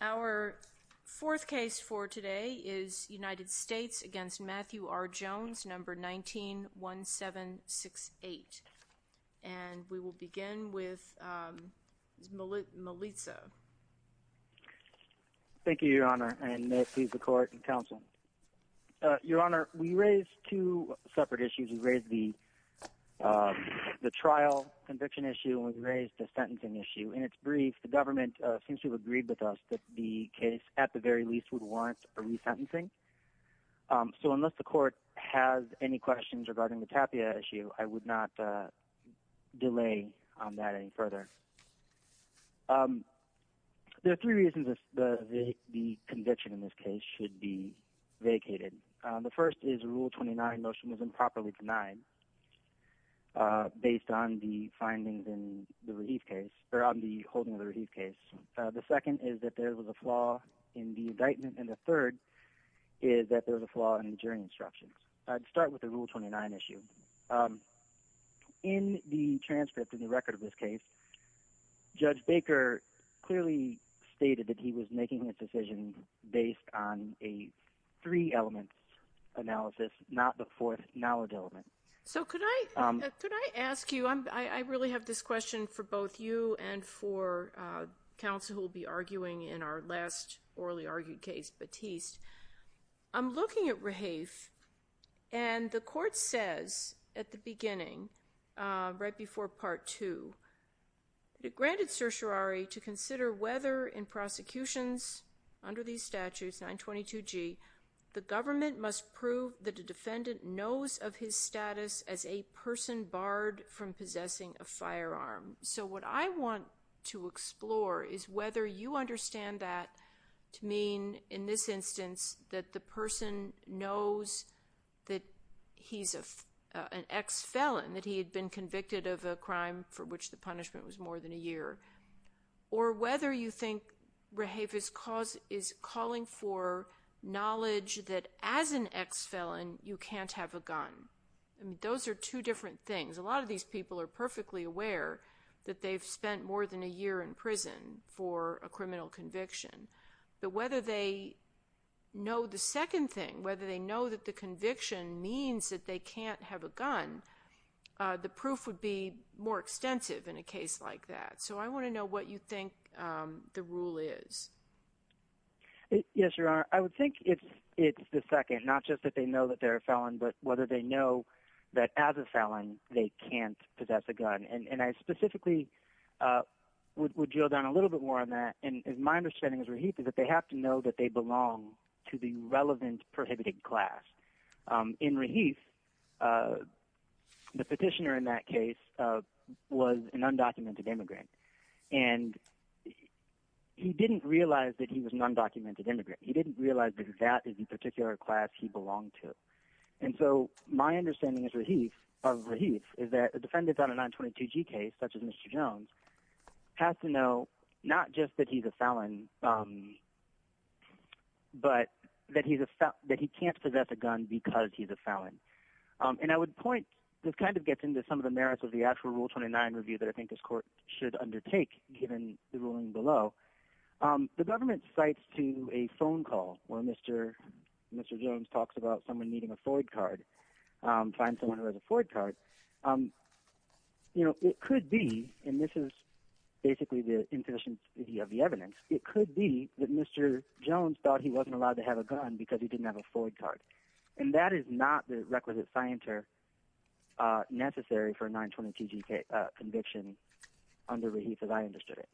Our fourth case for today is United States v. Matthew R. Jones, number 19-1768, and we will begin with Melissa. Thank you, Your Honor, and may it please the Court and Counsel. Your Honor, we raised two separate issues. We raised the trial conviction issue and we raised the sentencing issue. In its brief, the government seems to have agreed with us that the case, at the very least, would warrant a resentencing. So unless the Court has any questions regarding the TAPIA issue, I would not delay on that any further. There are three reasons the conviction in this case should be vacated. The first is Rule 29 motion was improperly denied based on the findings in the Rahif case, or on the holding of the Rahif case. The second is that there was a flaw in the indictment, and the third is that there was a flaw in the jury instructions. I'd start with the Rule 29 issue. In the transcript, in the record of this case, Judge Baker clearly stated that he was making his decision based on a three-element analysis, not the fourth knowledge element. So could I ask you, I really have this question for both you and for counsel who will be arguing in our last orally argued case, Batiste. I'm looking at Rahif, and the Court says at the beginning, right before Part 2, that it granted certiorari to consider whether in prosecutions under these statutes, 922G, the government must prove that a defendant knows of his status as a person barred from possessing a firearm. So what I want to explore is whether you understand that to mean, in this instance, that the person knows that he's an ex-felon, that he had been convicted of a crime for which the punishment was more than a year, or whether you think Rahif is calling for knowledge that as an ex-felon, you can't have a gun. Those are two different things. A lot of these people are perfectly aware that they've spent more than a year in prison for a criminal conviction. But whether they know the second thing, whether they know that the conviction means that they can't have a gun, the proof would be more extensive in a case like that. So I want to know what you think the rule is. Yes, Your Honor. I would think it's the second, not just that they know that they're a felon, but whether they know that as a felon they can't possess a gun. And I specifically would drill down a little bit more on that. And my understanding as Rahif is that they have to know that they belong to the relevant prohibited class. In Rahif, the petitioner in that case was an undocumented immigrant. And he didn't realize that he was an undocumented immigrant. He didn't realize that that is the particular class he belonged to. And so my understanding as Rahif is that a defendant on a 922G case such as Mr. Jones has to know not just that he's a felon, but that he can't possess a gun because he's a felon. And I would point, this kind of gets into some of the merits of the actual Rule 29 review that I think this court should undertake given the ruling below. The government cites to a phone call where Mr. Jones talks about someone needing a Floyd card, find someone who has a Floyd card. It could be, and this is basically the imposition of the evidence, it could be that Mr. Jones thought he wasn't allowed to have a gun because he didn't have a Floyd card. And that is not the requisite scienter necessary for a 922G conviction under Rahif as I understood it.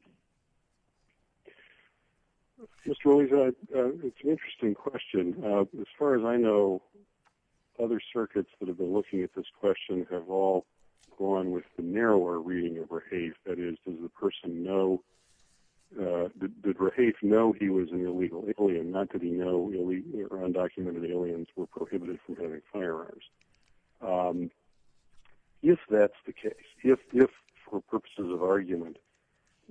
Mr. Aliza, it's an interesting question. As far as I know, other circuits that have been looking at this question have all gone with the narrower reading of Rahif. That is, does the person know, did Rahif know he was an illegal alien? Not did he know that undocumented aliens were prohibited from having firearms? If that's the case, if for purposes of argument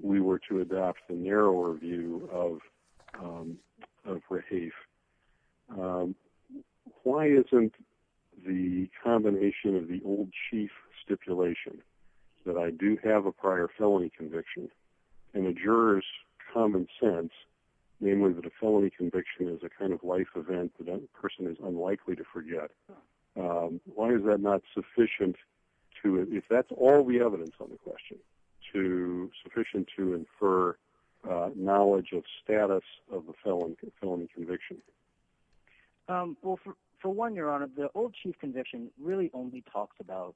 we were to adopt the narrower view of Rahif, why isn't the combination of the old chief stipulation that I do have a prior felony conviction in a juror's common sense, namely that a felony conviction is a kind of life event that that person is unlikely to forget, why is that not sufficient to, if that's all the evidence on the question, sufficient to infer knowledge of status of the felony conviction? Well, for one, Your Honor, the old chief conviction really only talked about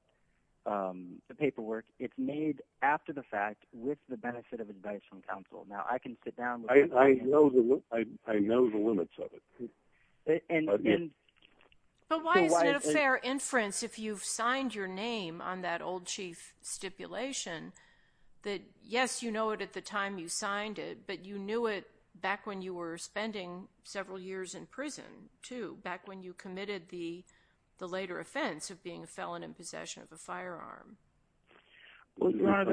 the paperwork. It's made after the fact with the benefit of advice from counsel. Now, I can sit down. I know the limits of it. But why isn't it a fair inference, if you've signed your name on that old chief stipulation, that, yes, you know it at the time you signed it, but you knew it back when you were spending several years in prison, too, back when you committed the later offense of being a felon in possession of a firearm? It's kind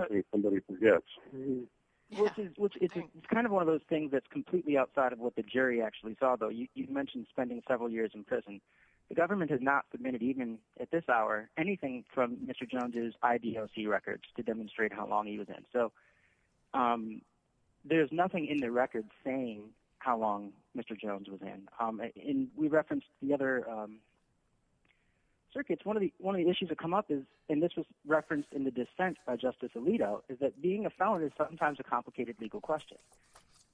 of one of those things that's completely outside of what the jury actually saw, though. You mentioned spending several years in prison. The government has not submitted, even at this hour, anything from Mr. Jones' IDOC records to demonstrate how long he was in. So there's nothing in the records saying how long Mr. Jones was in. And we referenced the other circuits. One of the issues that come up is, and this was referenced in the dissent by Justice Alito, is that being a felon is sometimes a complicated legal question.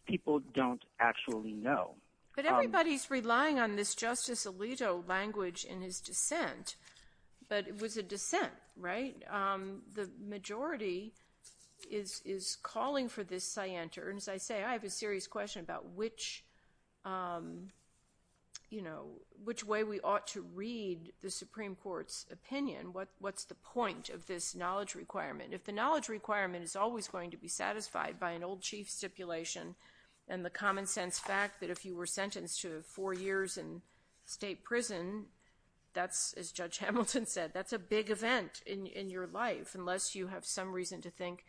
People don't actually know. But everybody's relying on this Justice Alito language in his dissent. But it was a dissent, right? The majority is calling for this scienter. And as I say, I have a serious question about which way we ought to read the Supreme Court's opinion. What's the point of this knowledge requirement? If the knowledge requirement is always going to be satisfied by an old chief stipulation and the common sense fact that if you were sentenced to four years in state prison, that's, as Judge Hamilton said, that's a big event in your life, unless you have some reason to think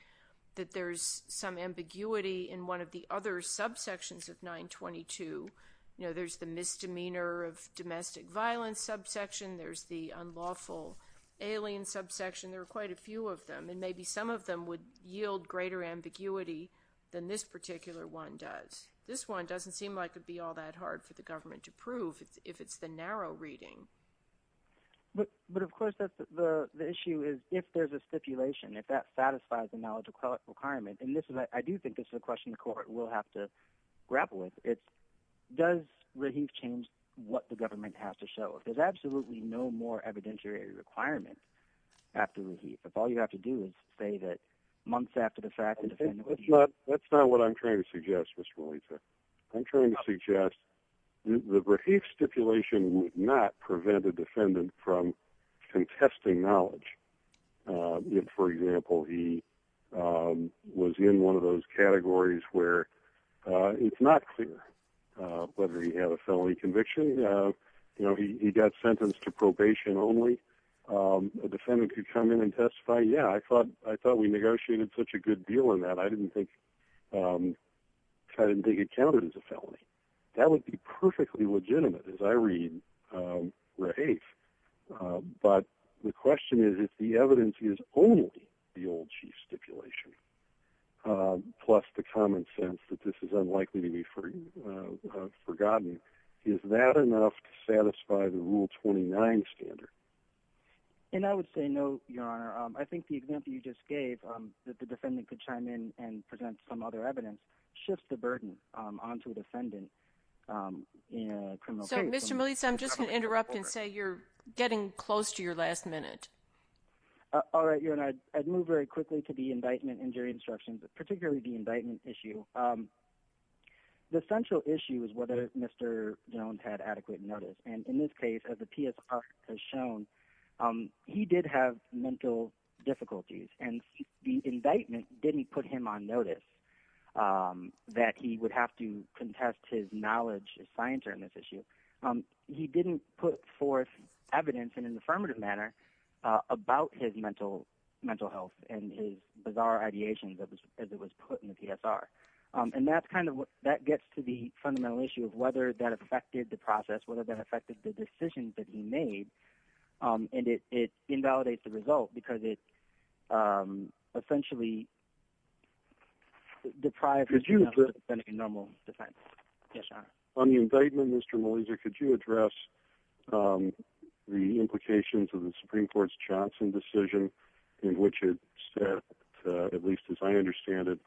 that there's some ambiguity in one of the other subsections of 922. You know, there's the misdemeanor of domestic violence subsection. There's the unlawful alien subsection. There are quite a few of them, and maybe some of them would yield greater ambiguity than this particular one does. This one doesn't seem like it would be all that hard for the government to prove if it's the narrow reading. But, of course, the issue is if there's a stipulation, if that satisfies the knowledge requirement, and I do think this is a question the court will have to grapple with, does Rahim change what the government has to show? If there's absolutely no more evidentiary requirement after Rahim, if all you have to do is say that months after the fact the defendant was used. That's not what I'm trying to suggest, Mr. Melissa. I'm trying to suggest the Rahim stipulation would not prevent a defendant from contesting knowledge. If, for example, he was in one of those categories where it's not clear whether he had a felony conviction, you know, he got sentenced to probation only, a defendant could come in and testify, yeah, I thought we negotiated such a good deal on that, I didn't think it counted as a felony. That would be perfectly legitimate, as I read Rahim. But the question is if the evidence is only the old chief stipulation, plus the common sense that this is unlikely to be forgotten, is that enough to satisfy the Rule 29 standard? And I would say no, Your Honor. I think the example you just gave, that the defendant could chime in and present some other evidence, shifts the burden onto a defendant in a criminal case. So, Mr. Melissa, I'm just going to interrupt and say you're getting close to your last minute. All right, Your Honor. I'd move very quickly to the indictment injury instructions, particularly the indictment issue. The central issue is whether Mr. Jones had adequate notice. And in this case, as the PSR has shown, he did have mental difficulties, and the indictment didn't put him on notice that he would have to contest his knowledge, his science on this issue. He didn't put forth evidence in an affirmative manner about his mental health and his bizarre ideations as it was put in the PSR. And that gets to the fundamental issue of whether that affected the process, whether that affected the decisions that he made, and it invalidates the result because it essentially deprived the defendant of normal defense. Yes, Your Honor. On the indictment, Mr. Melissa, could you address the implications of the Supreme Court's Johnson decision in which it said, at least as I understand it,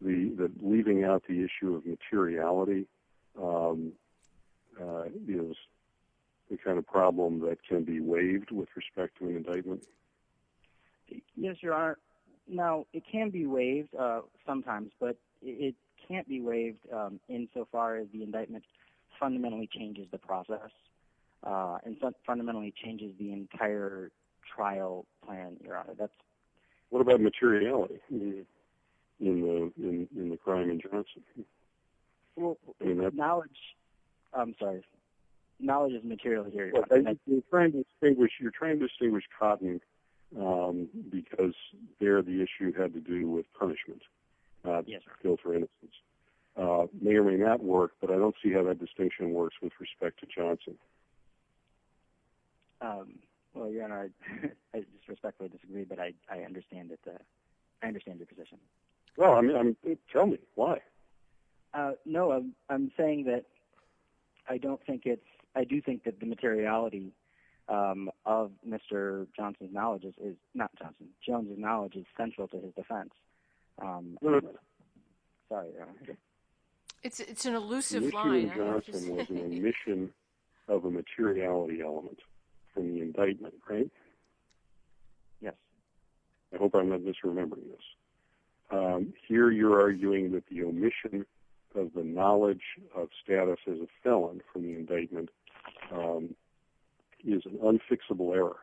that leaving out the issue of materiality is the kind of problem that can be waived with respect to an indictment? Yes, Your Honor. Now, it can be waived sometimes, but it can't be waived insofar as the indictment fundamentally changes the process and fundamentally changes the entire trial plan, Your Honor. What about materiality in the crime in Johnson? Knowledge is material, Your Honor. You're trying to distinguish cotton because there the issue had to do with punishment, not just guilt or innocence. It may or may not work, but I don't see how that distinction works with respect to Johnson. Well, Your Honor, I disrespectfully disagree, but I understand the position. Well, tell me why. No, I'm saying that I do think that the materiality of Mr. Johnson's knowledge is central to his defense. No, no, no. Sorry, Your Honor. It's an elusive line. Mr. Johnson was an omission of a materiality element from the indictment, right? Yes. I hope I'm not misremembering this. Here you're arguing that the omission of the knowledge of status as a felon from the indictment is an unfixable error.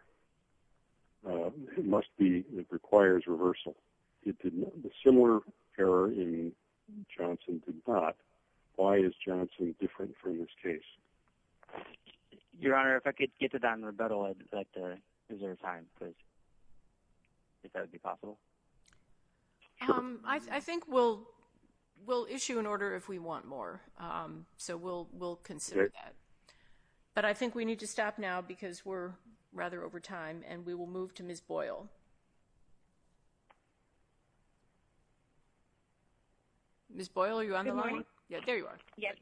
It must be that it requires reversal. A similar error in Johnson did not. Why is Johnson different from this case? Your Honor, if I could get to that in rebuttal, I'd like to reserve time, if that would be possible. I think we'll issue an order if we want more, so we'll consider that. But I think we need to stop now because we're rather over time, and we will move to Ms. Boyle. Ms. Boyle, are you on the line? Good morning. There you are. Yes.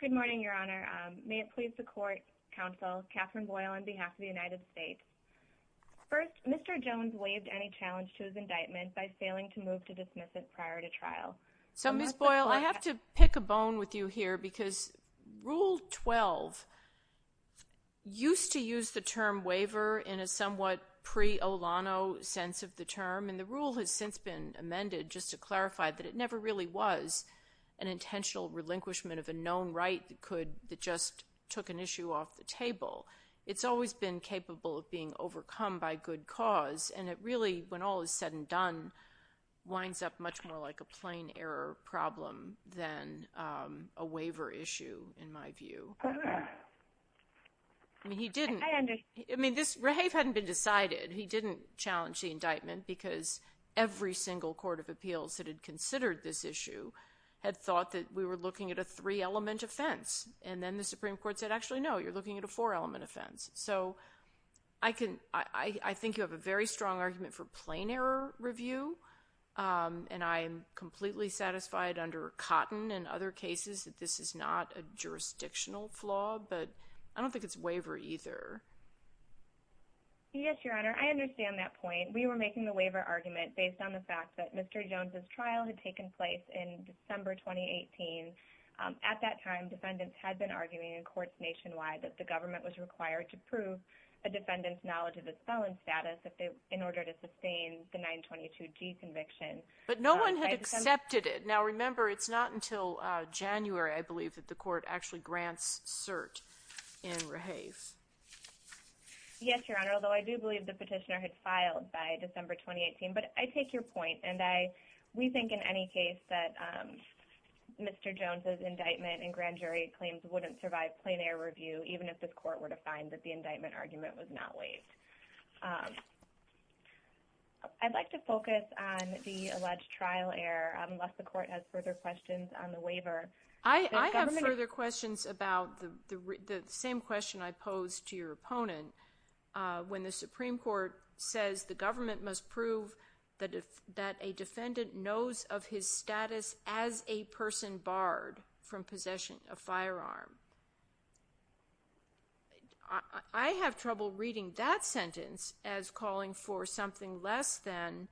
Good morning, Your Honor. May it please the court, counsel, Catherine Boyle on behalf of the United States. First, Mr. Jones waived any challenge to his indictment by failing to move to dismiss it prior to trial. So, Ms. Boyle, I have to pick a bone with you here because Rule 12 used to use the term waiver in a somewhat pre-O'Lano sense of the term, and the rule has since been amended just to clarify that it never really was an intentional relinquishment of a known right that just took an issue off the table. It's always been capable of being overcome by good cause, and it really, when all is said and done, winds up much more like a plain error problem than a waiver issue, in my view. I understand. Because every single court of appeals that had considered this issue had thought that we were looking at a three-element offense, and then the Supreme Court said, actually, no, you're looking at a four-element offense. So, I think you have a very strong argument for plain error review, and I'm completely satisfied under Cotton and other cases that this is not a jurisdictional flaw, but I don't think it's waiver either. Yes, Your Honor. I understand that point. We were making the waiver argument based on the fact that Mr. Jones' trial had taken place in December 2018. At that time, defendants had been arguing in courts nationwide that the government was required to prove a defendant's knowledge of the felon status in order to sustain the 922G conviction. But no one had accepted it. Now, remember, it's not until January, I believe, that the court actually grants cert in Rehave. Yes, Your Honor, although I do believe the petitioner had filed by December 2018. But I take your point, and we think in any case that Mr. Jones' indictment and grand jury claims wouldn't survive plain error review, even if the court were to find that the indictment argument was not waived. I'd like to focus on the alleged trial error, unless the court has further questions on the waiver. I have further questions about the same question I posed to your opponent, when the Supreme Court says the government must prove that a defendant knows of his status as a person barred from possessing a firearm. I have trouble reading that sentence as calling for something less than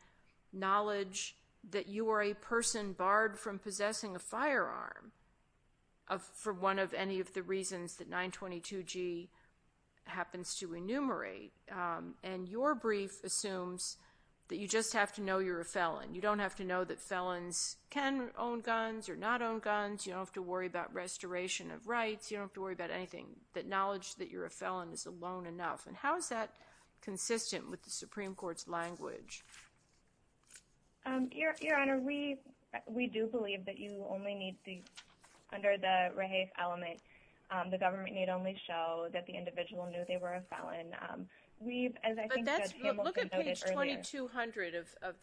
knowledge that you are a person barred from possessing a firearm, for one of any of the reasons that 922G happens to enumerate. And your brief assumes that you just have to know you're a felon. You don't have to know that felons can own guns or not own guns. You don't have to worry about restoration of rights. You don't have to worry about anything. That knowledge that you're a felon is alone enough. And how is that consistent with the Supreme Court's language? Your Honor, we do believe that you only need to, under the rehafe element, the government need only show that the individual knew they were a felon. We've, as I think Judge Hamilton noted earlier... But that's, look at page 2200 of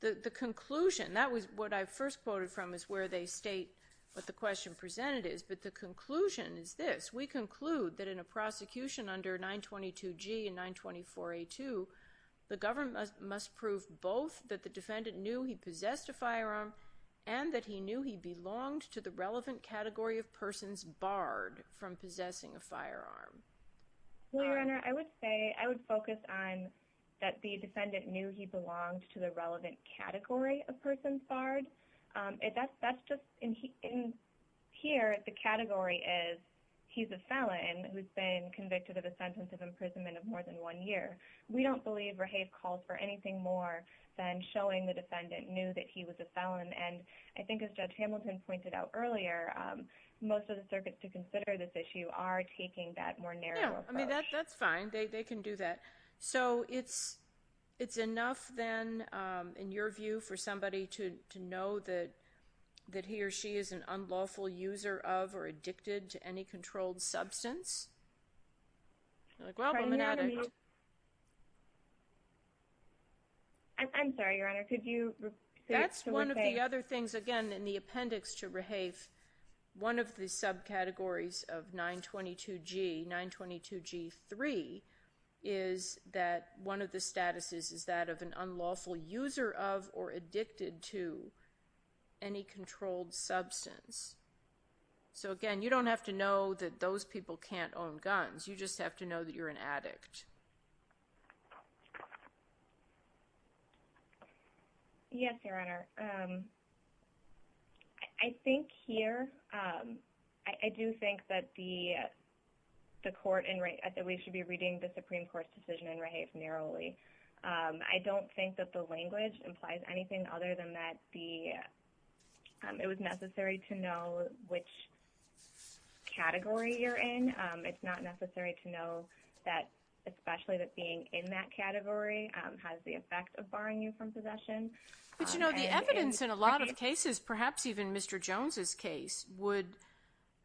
the conclusion. That was what I first quoted from is where they state what the question presented is. But the conclusion is this. We conclude that in a prosecution under 922G and 924A2, the government must prove both that the defendant knew he possessed a firearm and that he knew he belonged to the relevant category of persons barred from possessing a firearm. Your Honor, I would say, I would focus on that the defendant knew he belonged to the relevant category of persons barred. That's just, in here, the category is he's a felon who's been convicted of a sentence of imprisonment of more than one year. We don't believe rehafe calls for anything more than showing the defendant knew that he was a felon. And I think as Judge Hamilton pointed out earlier, most of the circuits to consider this issue are taking that more narrow approach. No, I mean, that's fine. They can do that. So it's enough then, in your view, for somebody to know that he or she is an unlawful user of or addicted to any controlled substance? I'm sorry, Your Honor. Could you... That's one of the other things, again, in the appendix to rehafe, one of the subcategories of 922G, 922G3, is that one of the statuses is that of an unlawful user of or addicted to any controlled substance. So, again, you don't have to know that those people can't own guns. You just have to know that you're an addict. Yes, Your Honor. I think here, I do think that we should be reading the Supreme Court's decision in rehafe narrowly. I don't think that the language implies anything other than that it was necessary to know which category you're in. It's not necessary to know that especially that being in that category has the effect of barring you from possession. But, you know, the evidence in a lot of cases, perhaps even Mr. Jones' case, would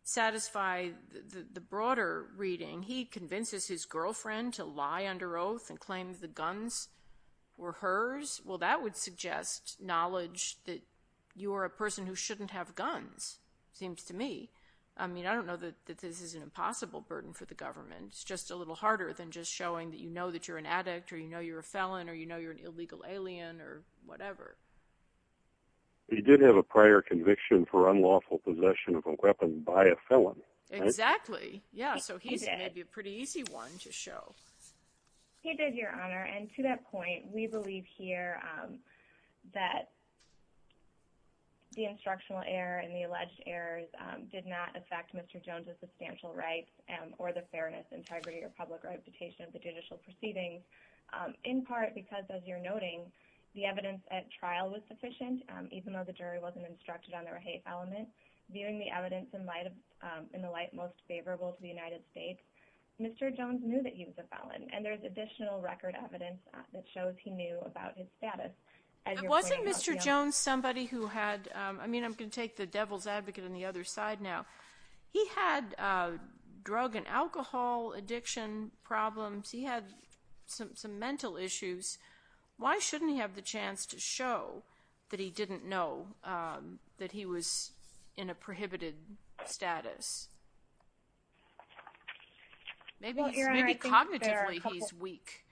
satisfy the broader reading. He convinces his girlfriend to lie under oath and claim the guns were hers. Well, that would suggest knowledge that you are a person who shouldn't have guns, seems to me. I mean, I don't know that this is an impossible burden for the government. It's just a little harder than just showing that you know that you're an addict or you know you're a felon or you know you're an illegal alien or whatever. He did have a prior conviction for unlawful possession of a weapon by a felon. Exactly. Yeah, so he's maybe a pretty easy one to show. He did, Your Honor, and to that point, we believe here that the instructional error and the alleged errors did not affect Mr. Jones' substantial rights or the fairness, integrity, or public reputation of the judicial proceedings in part because, as you're noting, the evidence at trial was sufficient. Even though the jury wasn't instructed on the rehafe element, viewing the evidence in the light most favorable to the United States, Mr. Jones knew that he was a felon, and there's additional record evidence that shows he knew about his status. But wasn't Mr. Jones somebody who had – I mean, I'm going to take the devil's advocate on the other side now. He had drug and alcohol addiction problems. He had some mental issues. Why shouldn't he have the chance to show that he didn't know that he was in a prohibited status? Maybe cognitively he's weak.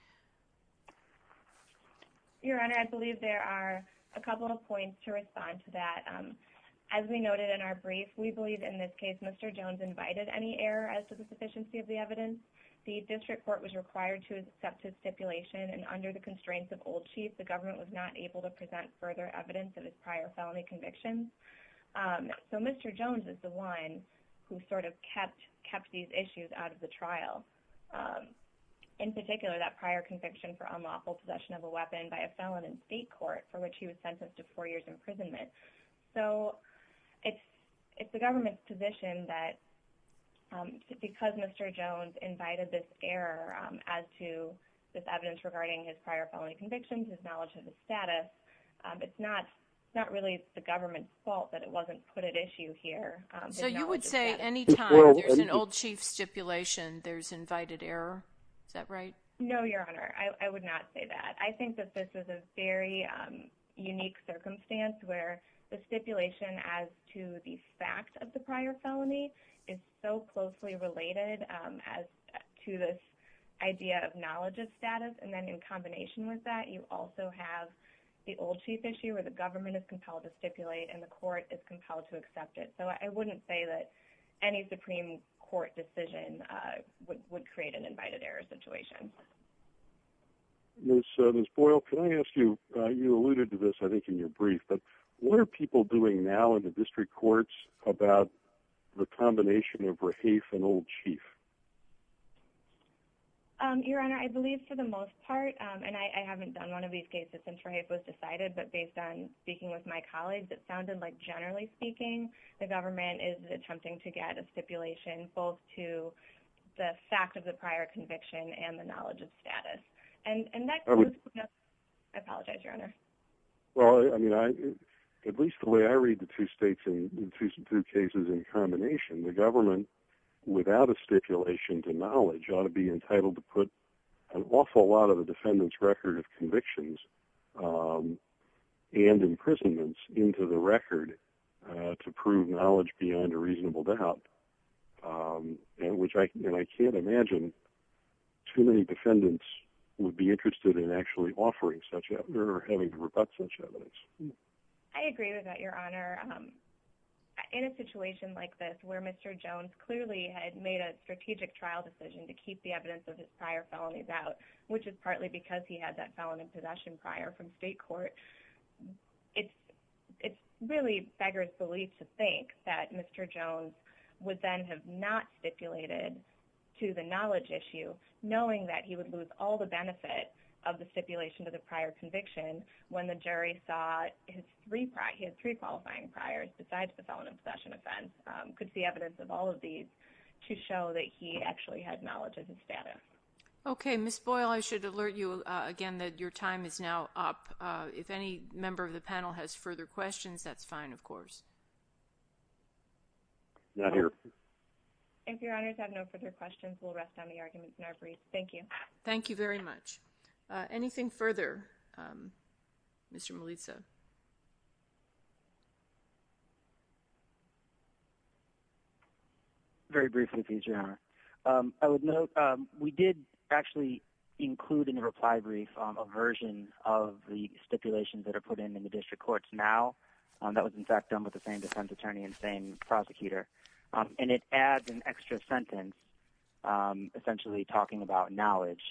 Your Honor, I believe there are a couple of points to respond to that. As we noted in our brief, we believe in this case Mr. Jones invited any error as to the sufficiency of the evidence. The district court was required to accept his stipulation, and under the constraints of old chief, the government was not able to present further evidence of his prior felony convictions. So Mr. Jones is the one who sort of kept these issues out of the trial, in particular that prior conviction for unlawful possession of a weapon by a felon in state court for which he was sentenced to four years' imprisonment. So it's the government's position that because Mr. Jones invited this error as to this evidence regarding his prior felony convictions, his knowledge of the status, it's not really the government's fault that it wasn't put at issue here. So you would say any time there's an old chief stipulation, there's invited error? Is that right? No, Your Honor. I would not say that. I think that this is a very unique circumstance where the stipulation as to the fact of the prior felony is so closely related to this idea of knowledge of status. And then in combination with that, you also have the old chief issue where the government is compelled to stipulate, and the court is compelled to accept it. So I wouldn't say that any Supreme Court decision would create an invited error situation. Ms. Boyle, can I ask you, you alluded to this I think in your brief, but what are people doing now in the district courts about the combination of Rahafe and old chief? Your Honor, I believe for the most part, and I haven't done one of these cases since Rahafe was decided, but based on speaking with my colleagues, it sounded like generally speaking, the government is attempting to get a stipulation both to the fact of the prior conviction and the knowledge of status. And that goes to the... I apologize, Your Honor. Well, I mean, at least the way I read the two cases in combination, the government, without a stipulation to knowledge, ought to be entitled to put an awful lot of the defendant's record of convictions and imprisonments into the record to prove knowledge beyond a reasonable doubt. And I can't imagine too many defendants would be interested in actually offering such evidence or having to rebut such evidence. I agree with that, Your Honor. In a situation like this where Mr. Jones clearly had made a strategic trial decision to keep the evidence of his prior felonies out, which is partly because he had that felon in possession prior from state court, it's really beggars belief to think that Mr. Jones would then have not stipulated to the knowledge issue, knowing that he would lose all the benefit of the stipulation to the prior conviction when the jury saw his three qualifying priors besides the felon in possession offense, could see evidence of all of these to show that he actually had knowledge of his status. Okay. Ms. Boyle, I should alert you again that your time is now up. If any member of the panel has further questions, that's fine, of course. Not here. If Your Honors have no further questions, we'll rest on the arguments in our brief. Thank you. Thank you very much. Anything further, Mr. Melisa? Very briefly, please, Your Honor. I would note we did actually include in the reply brief a version of the stipulations that are put in in the district courts now. That was, in fact, done with the same defense attorney and same prosecutor. And it adds an extra sentence essentially talking about knowledge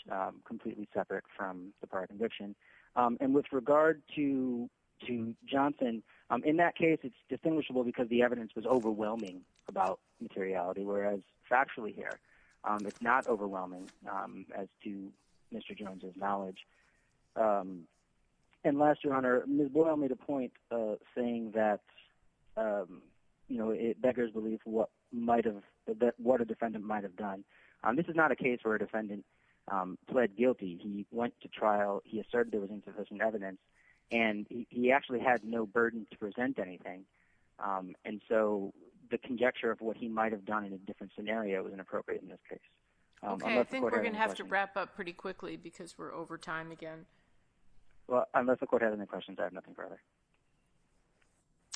completely separate from the prior conviction. And with regard to Johnson, in that case, it's distinguishable because the evidence was overwhelming about materiality, whereas factually here it's not overwhelming as to Mr. Jones' knowledge. And last, Your Honor, Ms. Boyle made a point saying that it beggars belief what a defendant might have done. This is not a case where a defendant pled guilty. He went to trial, he asserted there was insufficient evidence, and he actually had no burden to present anything. And so the conjecture of what he might have done in a different scenario was inappropriate in this case. Okay, I think we're going to have to wrap up pretty quickly because we're over time again. Well, unless the court has any questions, I have nothing further.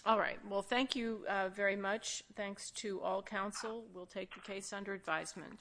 All right, well, thank you very much. Thanks to all counsel. We'll take the case under advisement.